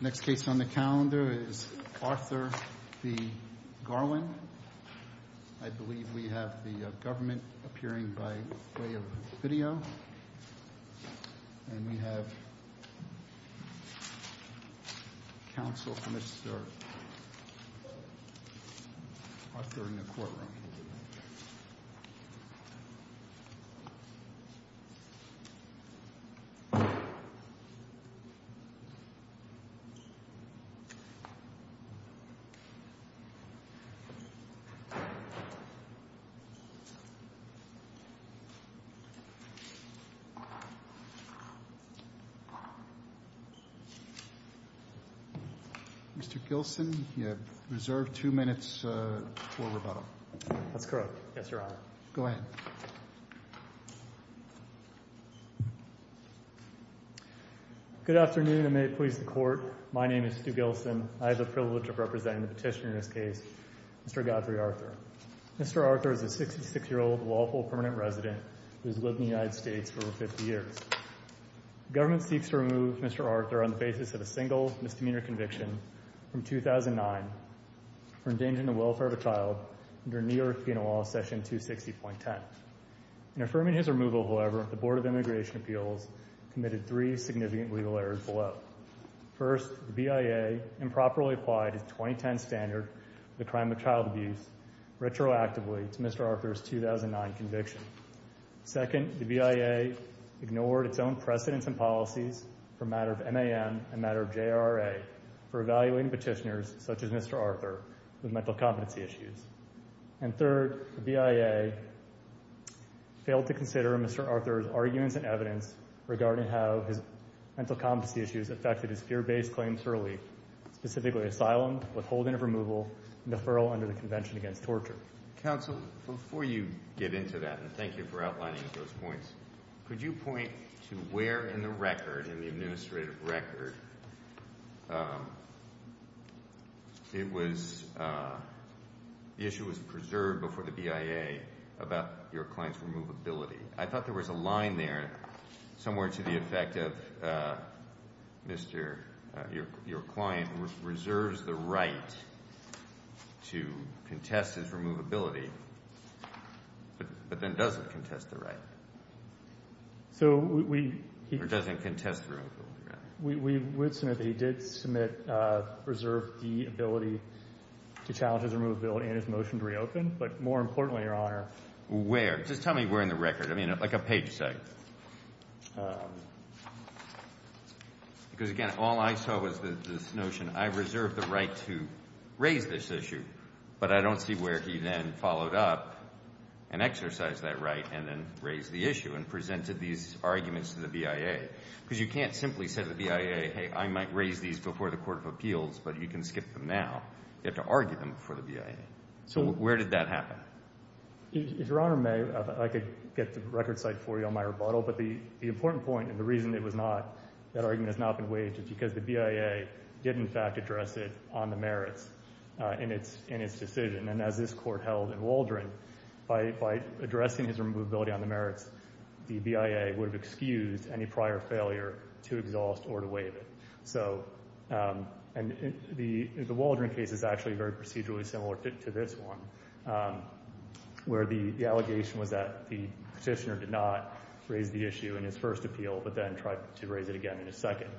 Next case on the calendar is Arthur v. Garland. I believe we have the government appearing by way of video. And we have counsel for Mr. Arthur in the courtroom. Mr. Gilson, you have reserved two minutes for rebuttal. That's correct. Yes, Your Honor. Go ahead. Good afternoon and may it please the Court. My name is Stu Gilson. I have the privilege of representing the petitioner in this case, Mr. Godfrey Arthur. Mr. Arthur is a 66-year-old lawful permanent resident who has lived in the United States for over 50 years. The government seeks to remove Mr. Arthur on the basis of a single misdemeanor conviction from 2009 for endangering the welfare of a child under New York penal law section 260.10. In affirming his removal, however, the Board of Immigration Appeals committed three significant legal errors below. First, the BIA improperly applied its 2010 standard for the crime of child abuse retroactively to Mr. Arthur's 2009 conviction. Second, the BIA ignored its own precedents and policies for a matter of MAM and a matter of JRA for evaluating petitioners such as Mr. Arthur with mental competency issues. And third, the BIA failed to consider Mr. Arthur's arguments and evidence regarding how his mental competency issues affected his fear-based claims for relief, specifically asylum, withholding of removal, and deferral under the Convention Against Torture. Counsel, before you get into that, and thank you for outlining those points, could you point to where in the record, in the administrative record, the issue was preserved before the BIA about your client's removability? I thought there was a line there somewhere to the effect of your client reserves the right to contest his removability but then doesn't contest the right, or doesn't contest the removal. We would submit that he did submit reserve the ability to challenge his removability and his motion to reopen, but more importantly, Your Honor— Where? Just tell me where in the record, like a page size. Because, again, all I saw was this notion, I reserve the right to raise this issue, but I don't see where he then followed up and exercised that right and then raised the issue and presented these arguments to the BIA. Because you can't simply say to the BIA, hey, I might raise these before the Court of Appeals, but you can skip them now. You have to argue them before the BIA. So where did that happen? If Your Honor may, I could get the record site for you on my rebuttal, but the important point and the reason it was not, that argument has not been waived, is because the BIA did, in fact, address it on the merits in its decision. And as this Court held in Waldron, by addressing his removability on the merits, the BIA would have excused any prior failure to exhaust or to waive it. And the Waldron case is actually very procedurally similar to this one, where the allegation was that the petitioner did not raise the issue in his first appeal but then tried to raise it again in his second.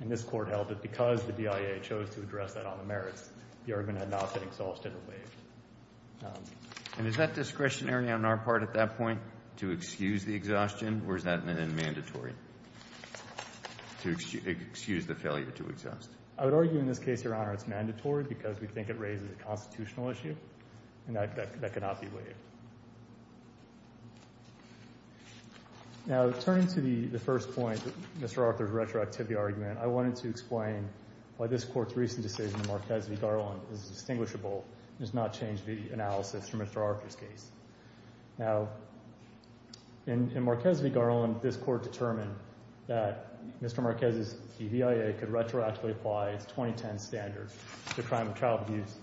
And this Court held that because the BIA chose to address that on the merits, the argument had not been exhausted or waived. And is that discretionary on our part at that point, to excuse the exhaustion, or is that mandatory to excuse the failure to exhaust? I would argue in this case, Your Honor, it's mandatory because we think it raises a constitutional issue, and that cannot be waived. Now, turning to the first point, Mr. Arthur's retroactivity argument, I wanted to explain why this Court's recent decision in Marquez v. Garland is distinguishable and has not changed the analysis from Mr. Arthur's case. Now, in Marquez v. Garland, this Court determined that Mr. Marquez's BIA could retroactively apply its 2010 standards to crime and child abuse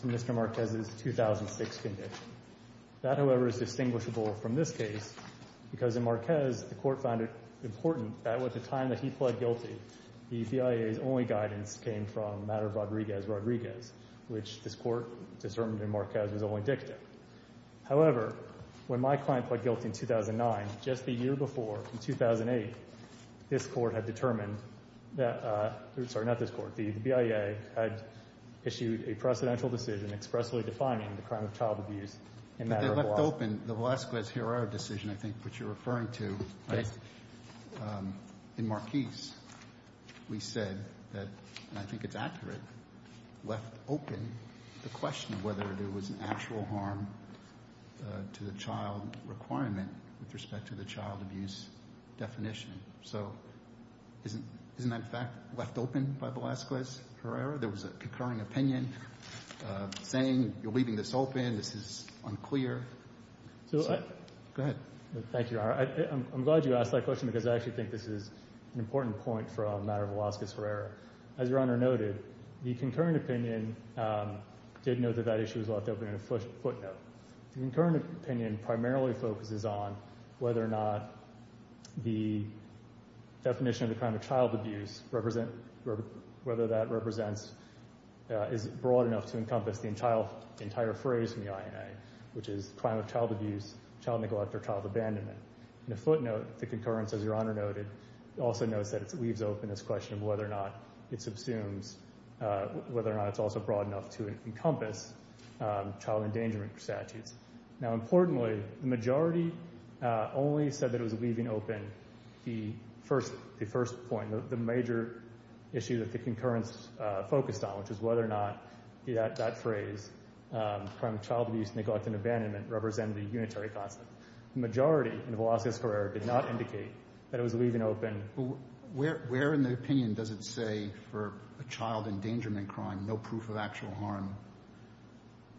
to Mr. Marquez's 2006 condition. That, however, is distinguishable from this case because in Marquez, the Court found it important that with the time that he pled guilty, the BIA's only guidance came from the matter of Rodriguez-Rodriguez, which this Court determined in Marquez was only dictative. However, when my client pled guilty in 2009, just the year before, in 2008, this Court had determined that, sorry, not this Court, the BIA had issued a precedential decision expressly defining the crime of child abuse in matter of Velasquez. But they left open the Velasquez-Guerrero decision, I think, which you're referring to. Yes. In Marquez, we said that, and I think it's accurate, left open the question of whether there was an actual harm to the child requirement with respect to the child abuse definition. So isn't that, in fact, left open by Velasquez-Guerrero? There was a concurring opinion saying you're leaving this open, this is unclear. Go ahead. Thank you, Your Honor. I'm glad you asked that question because I actually think this is an important point for a matter of Velasquez-Guerrero. As Your Honor noted, the concurring opinion did note that that issue was left open in a footnote. The concurring opinion primarily focuses on whether or not the definition of the crime of child abuse is broad enough to encompass the entire phrase in the INA, which is crime of child abuse, child neglect, or child abandonment. In the footnote, the concurrence, as Your Honor noted, also notes that it leaves open this question of whether or not it subsumes, whether or not it's also broad enough to encompass child endangerment statutes. Now, importantly, the majority only said that it was leaving open the first point, the major issue that the concurrence focused on, which is whether or not that phrase, crime of child abuse, neglect, and abandonment, represented a unitary concept. The majority in Velasquez-Guerrero did not indicate that it was leaving open. Where in the opinion does it say for a child endangerment crime, no proof of actual harm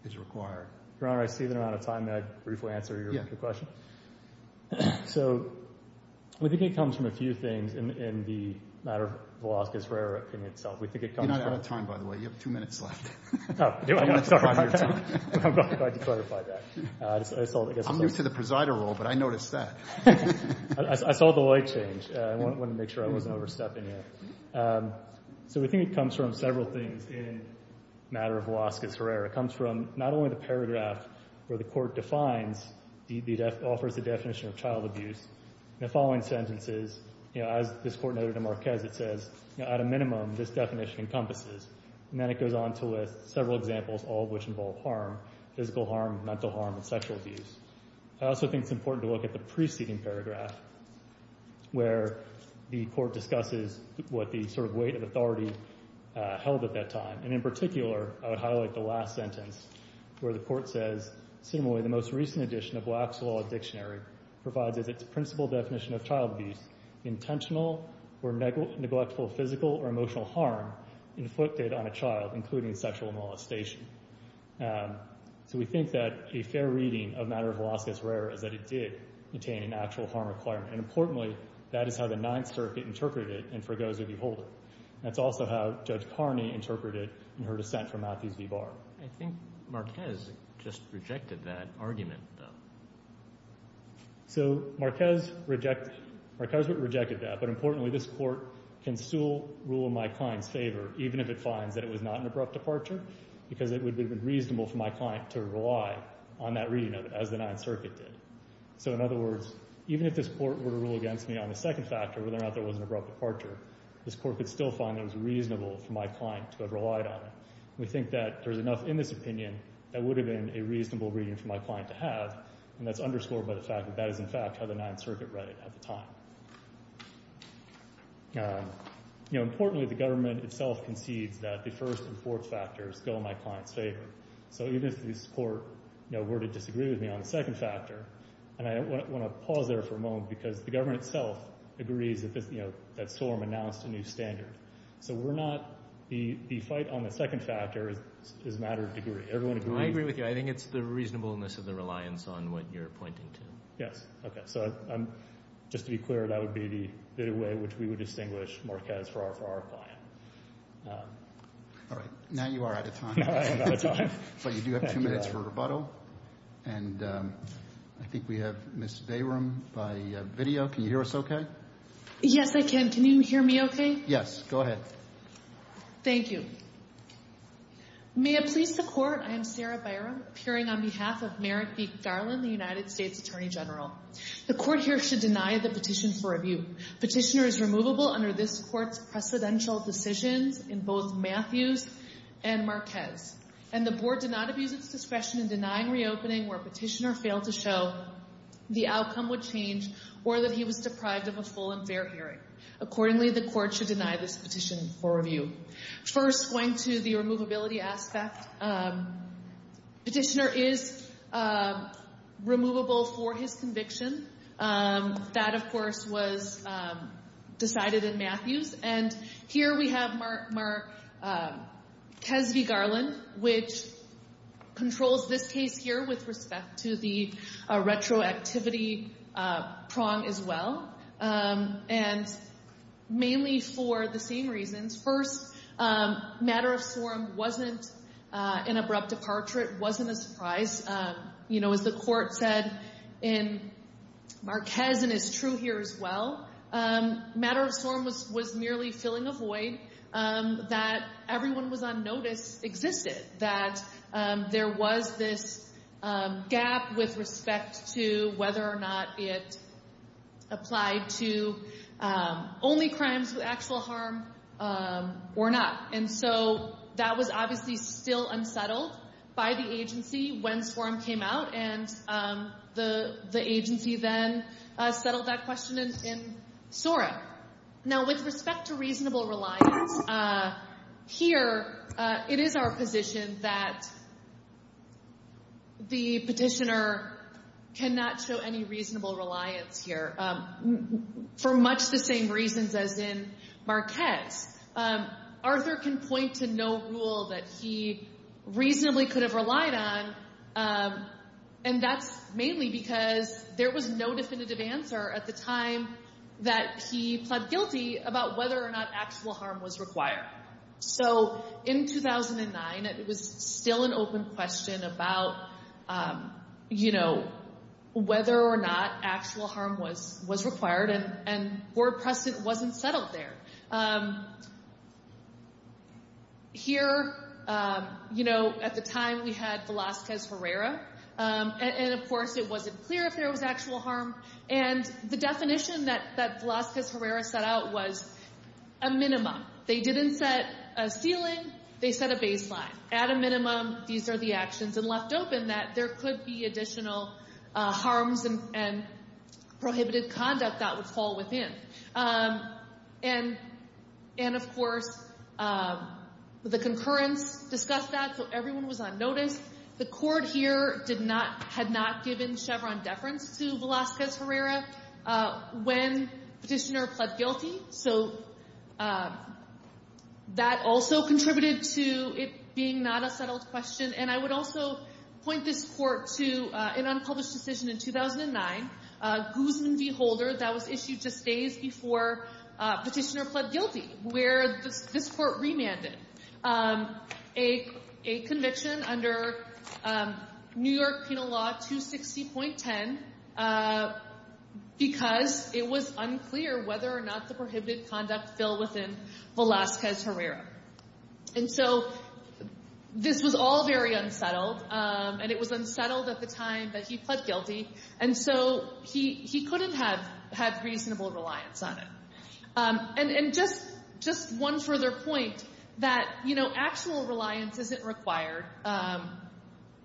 is required? Your Honor, I see that we're out of time. May I briefly answer your question? Yes. So we think it comes from a few things in the matter of Velasquez-Guerrero opinion itself. We think it comes from— You're not out of time, by the way. You have two minutes left. Oh, do I? I'm sorry. I'm glad you clarified that. I'm new to the presider role, but I noticed that. I saw the light change. I wanted to make sure I wasn't overstepping it. So we think it comes from several things in the matter of Velasquez-Guerrero. It comes from not only the paragraph where the court defines, offers the definition of child abuse. In the following sentences, as this court noted in Marquez, it says, at a minimum, this definition encompasses. And then it goes on to list several examples, all of which involve harm, physical harm, mental harm, and sexual abuse. I also think it's important to look at the preceding paragraph, where the court discusses what the sort of weight of authority held at that time. And in particular, I would highlight the last sentence where the court says, similarly, the most recent edition of Black's Law Dictionary provides as its principal definition of child abuse, intentional or neglectful physical or emotional harm inflicted on a child, including sexual molestation. So we think that a fair reading of the matter of Velasquez-Guerrero is that it did attain an actual harm requirement. And importantly, that is how the Ninth Circuit interpreted it in Forgoes or Beholden. That's also how Judge Carney interpreted it in her dissent for Matthews v. Barr. I think Marquez just rejected that argument, though. So Marquez rejected that. But importantly, this court can still rule in my client's favor, even if it finds that it was not an abrupt departure because it would have been reasonable for my client to rely on that reading, as the Ninth Circuit did. So in other words, even if this court were to rule against me on the second factor, whether or not there was an abrupt departure, this court could still find that it was reasonable for my client to have relied on it. We think that there's enough in this opinion that would have been a reasonable reading for my client to have, and that's underscored by the fact that that is, in fact, how the Ninth Circuit read it at the time. Importantly, the government itself concedes that the first and fourth factors go in my client's favor. So even if this court were to disagree with me on the second factor, and I want to pause there for a moment because the government itself agrees that SORM announced a new standard. So the fight on the second factor is a matter of degree. I agree with you. I think it's the reasonableness of the reliance on what you're pointing to. Yes. Okay. So just to be clear, that would be the way in which we would distinguish Marquez for our client. All right. Now you are out of time. I'm out of time. But you do have two minutes for rebuttal. And I think we have Ms. Bayram by video. Can you hear us okay? Yes, I can. Can you hear me okay? Yes. Go ahead. Thank you. May it please the Court, I am Sarah Bayram, appearing on behalf of Merrick B. Garland, the United States Attorney General. The Court here should deny the petition for review. Petitioner is removable under this Court's precedential decisions in both Matthews and Marquez. And the Board did not abuse its discretion in denying reopening where Petitioner failed to show the outcome would change or that he was deprived of a full and fair hearing. Accordingly, the Court should deny this petition for review. First, going to the removability aspect, Petitioner is removable for his conviction. That, of course, was decided in Matthews. And here we have Marquez v. Garland, which controls this case here with respect to the retroactivity prong as well. And mainly for the same reasons. First, matter of sorum wasn't an abrupt departure. It wasn't a surprise. You know, as the Court said in Marquez and is true here as well, matter of sorum was merely filling a void that everyone was on notice existed, that there was this gap with respect to whether or not it applied to only crimes with actual harm or not. And so that was obviously still unsettled by the agency when sorum came out, and the agency then settled that question in SORA. Now, with respect to reasonable reliance, here it is our position that the petitioner cannot show any reasonable reliance here for much the same reasons as in Marquez. Arthur can point to no rule that he reasonably could have relied on, and that's mainly because there was no definitive answer at the time that he pled guilty about whether or not actual harm was required. So in 2009, it was still an open question about, you know, whether or not actual harm was required, and poor precedent wasn't settled there. Here, you know, at the time we had Velazquez-Herrera, and of course it wasn't clear if there was actual harm, and the definition that Velazquez-Herrera set out was a minimum. They didn't set a ceiling. They set a baseline. At a minimum, these are the actions, and left open that there could be additional harms and prohibited conduct that would fall within. And, of course, the concurrence discussed that, so everyone was on notice. The court here had not given Chevron deference to Velazquez-Herrera when the petitioner pled guilty, so that also contributed to it being not a settled question, and I would also point this court to an unpublished decision in 2009, Guzman v. Holder, that was issued just days before petitioner pled guilty, where this court remanded a conviction under New York Penal Law 260.10 because it was unclear whether or not the prohibited conduct fell within Velazquez-Herrera. And so this was all very unsettled, and it was unsettled at the time that he pled guilty, and so he couldn't have had reasonable reliance on it. And just one further point, that, you know, actual reliance isn't required,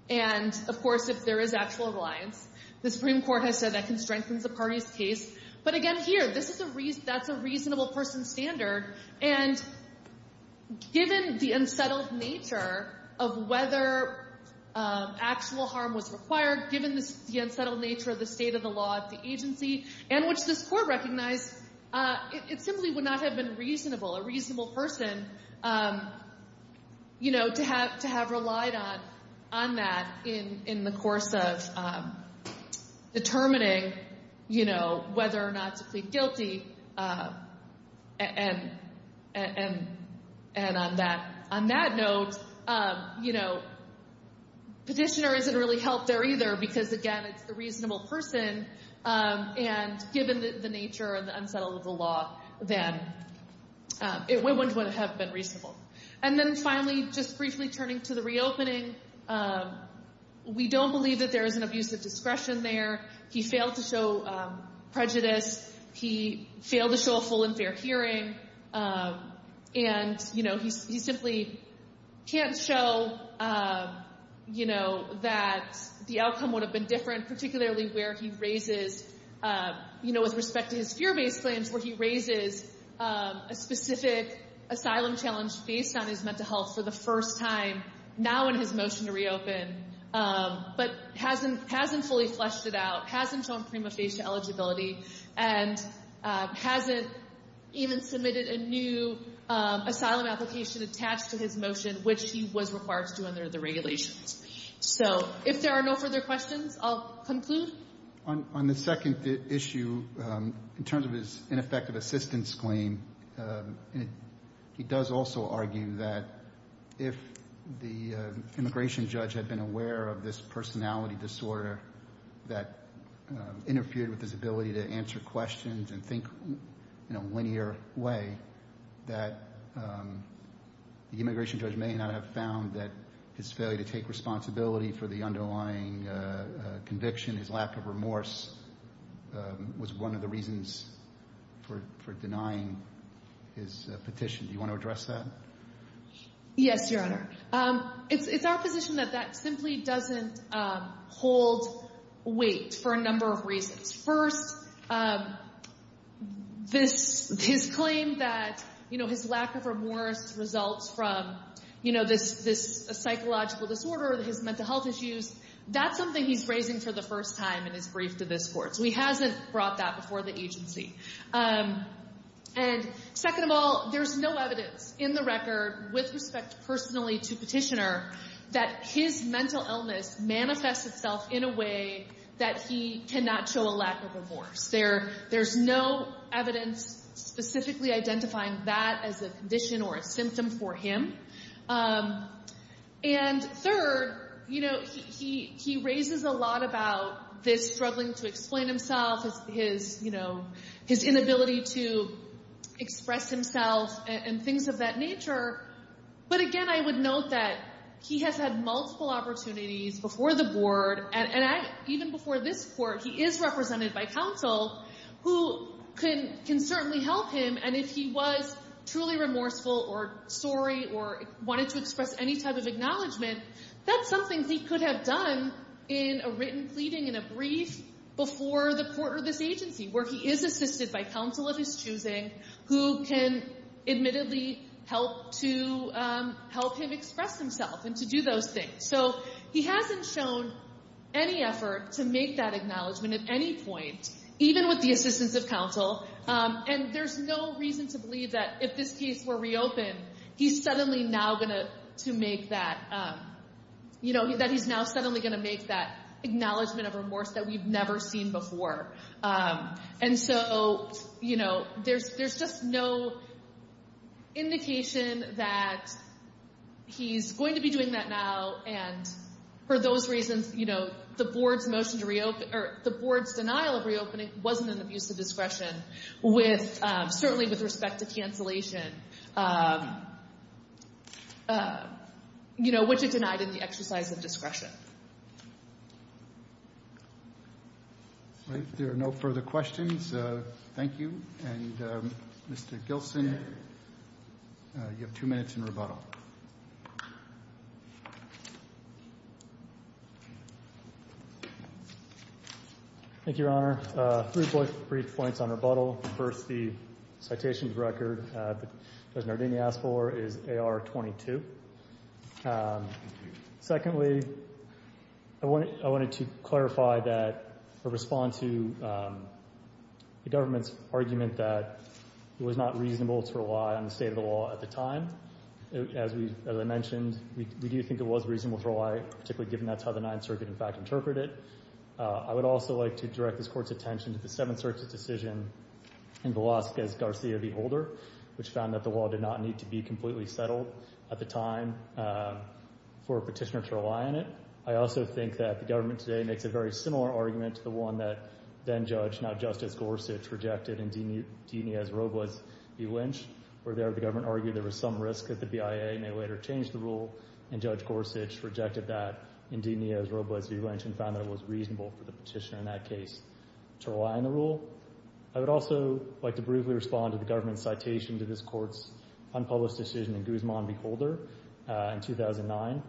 and, of course, if there is actual reliance, the Supreme Court has said that can strengthen the party's case. But, again, here, that's a reasonable person's standard, and given the unsettled nature of whether actual harm was required, given the unsettled nature of the state of the law at the agency, and which this court recognized, it simply would not have been reasonable, a reasonable person, you know, to have relied on that in the course of determining, you know, whether or not to plead guilty. And on that note, you know, petitioner isn't really helped there either, because, again, it's the reasonable person, and given the nature and the unsettled of the law, then it wouldn't have been reasonable. And then, finally, just briefly turning to the reopening, we don't believe that there is an abusive discretion there. He failed to show prejudice. He failed to show a full and fair hearing. And, you know, he simply can't show, you know, that the outcome would have been different, particularly where he raises, you know, with respect to his fear-based claims, where he raises a specific asylum challenge based on his mental health for the first time, now in his motion to reopen, but hasn't fully fleshed it out, hasn't shown prima facie eligibility, and hasn't even submitted a new asylum application attached to his motion, which he was required to do under the regulations. So if there are no further questions, I'll conclude. On the second issue, in terms of his ineffective assistance claim, he does also argue that if the immigration judge had been aware of this personality disorder that interfered with his ability to answer questions and think in a linear way, that the immigration judge may not have found that his failure to take responsibility for the underlying conviction, his lack of remorse, was one of the reasons for denying his petition. Do you want to address that? Yes, Your Honor. It's our position that that simply doesn't hold weight for a number of reasons. First, his claim that his lack of remorse results from this psychological disorder, his mental health issues, that's something he's raising for the first time in his brief to this Court. So he hasn't brought that before the agency. And second of all, there's no evidence in the record, with respect personally to Petitioner, that his mental illness manifests itself in a way that he cannot show a lack of remorse. There's no evidence specifically identifying that as a condition or a symptom for him. And third, he raises a lot about this struggling to explain himself, his inability to express himself, and things of that nature. But again, I would note that he has had multiple opportunities before the Board, and even before this Court, he is represented by counsel who can certainly help him. And if he was truly remorseful or sorry or wanted to express any type of acknowledgement, that's something he could have done in a written pleading, in a brief, before the Court or this agency, where he is assisted by counsel of his choosing, who can admittedly help him express himself and to do those things. So he hasn't shown any effort to make that acknowledgement at any point, even with the assistance of counsel. And there's no reason to believe that if this case were reopened, he's suddenly now going to make that, you know, that he's now suddenly going to make that acknowledgement of remorse that we've never seen before. And so, you know, there's just no indication that he's going to be doing that now. And for those reasons, you know, the Board's motion to reopen, or the Board's denial of reopening, wasn't an abuse of discretion, certainly with respect to cancellation, you know, which it denied in the exercise of discretion. If there are no further questions, thank you. And Mr. Gilson, you have two minutes in rebuttal. Thank you, Your Honor. Three brief points on rebuttal. First, the citation record that Judge Nardini asked for is AR 22. Secondly, I wanted to clarify that, or respond to the government's argument that it was not reasonable to rely on the state of the law at the time. As I mentioned, we do think it was reasonable to rely, particularly given that's how the Ninth Circuit, in fact, interpreted it. I would also like to direct this Court's attention to the Seventh Circuit's decision in Velazquez-Garcia v. Holder, which found that the law did not need to be completely settled at the time for a petitioner to rely on it. I also think that the government today makes a very similar argument to the one that then-Judge, now Justice Gorsuch, rejected in Diniz v. Robles v. Lynch, where there the government argued there was some risk that the BIA may later change the rule, and Judge Gorsuch rejected that in Diniz v. Robles v. Lynch and found that it was reasonable for the petitioner in that case to rely on the rule. I would also like to briefly respond to the government's citation to this Court's unpublished decision in Guzman v. Holder in 2009.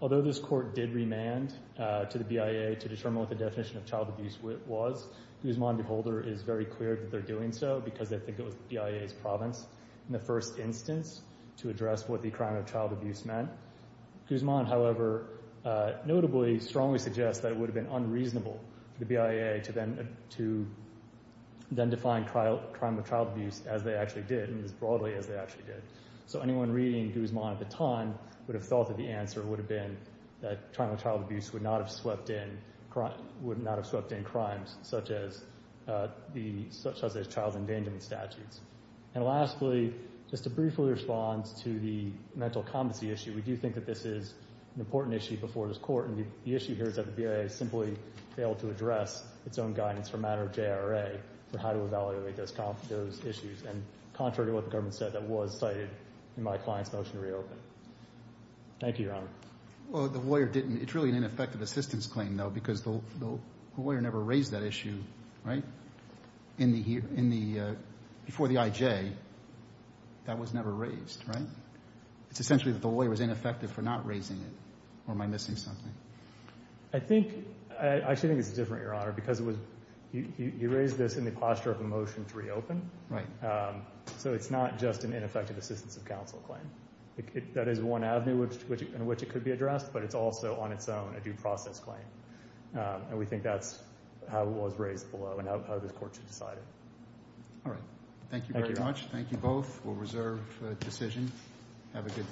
Although this Court did remand to the BIA to determine what the definition of child abuse was, Guzman v. Holder is very clear that they're doing so because they think it was the BIA's province in the first instance to address what the crime of child abuse meant. Guzman, however, notably strongly suggests that it would have been unreasonable for the BIA to then define crime of child abuse as they actually did, and as broadly as they actually did. So anyone reading Guzman at the time would have thought that the answer would have been that crime of child abuse would not have swept in crimes such as child endangerment statutes. And lastly, just to briefly respond to the mental competency issue, we do think that this is an important issue before this Court, and the issue here is that the BIA simply failed to address its own guidance for a matter of JRA for how to evaluate those issues, and contrary to what the government said, that was cited in my client's motion to reopen. Thank you, Your Honor. Well, the lawyer didn't. It's really an ineffective assistance claim, though, because the lawyer never raised that issue, right, before the IJ. That was never raised, right? It's essentially that the lawyer was ineffective for not raising it, or am I missing something? I actually think it's different, Your Honor, because you raised this in the posture of a motion to reopen. Right. So it's not just an ineffective assistance of counsel claim. That is one avenue in which it could be addressed, but it's also on its own a due process claim, and we think that's how it was raised below and how this Court should decide it. All right. Thank you very much. Thank you both. We'll reserve the decision. Have a good day.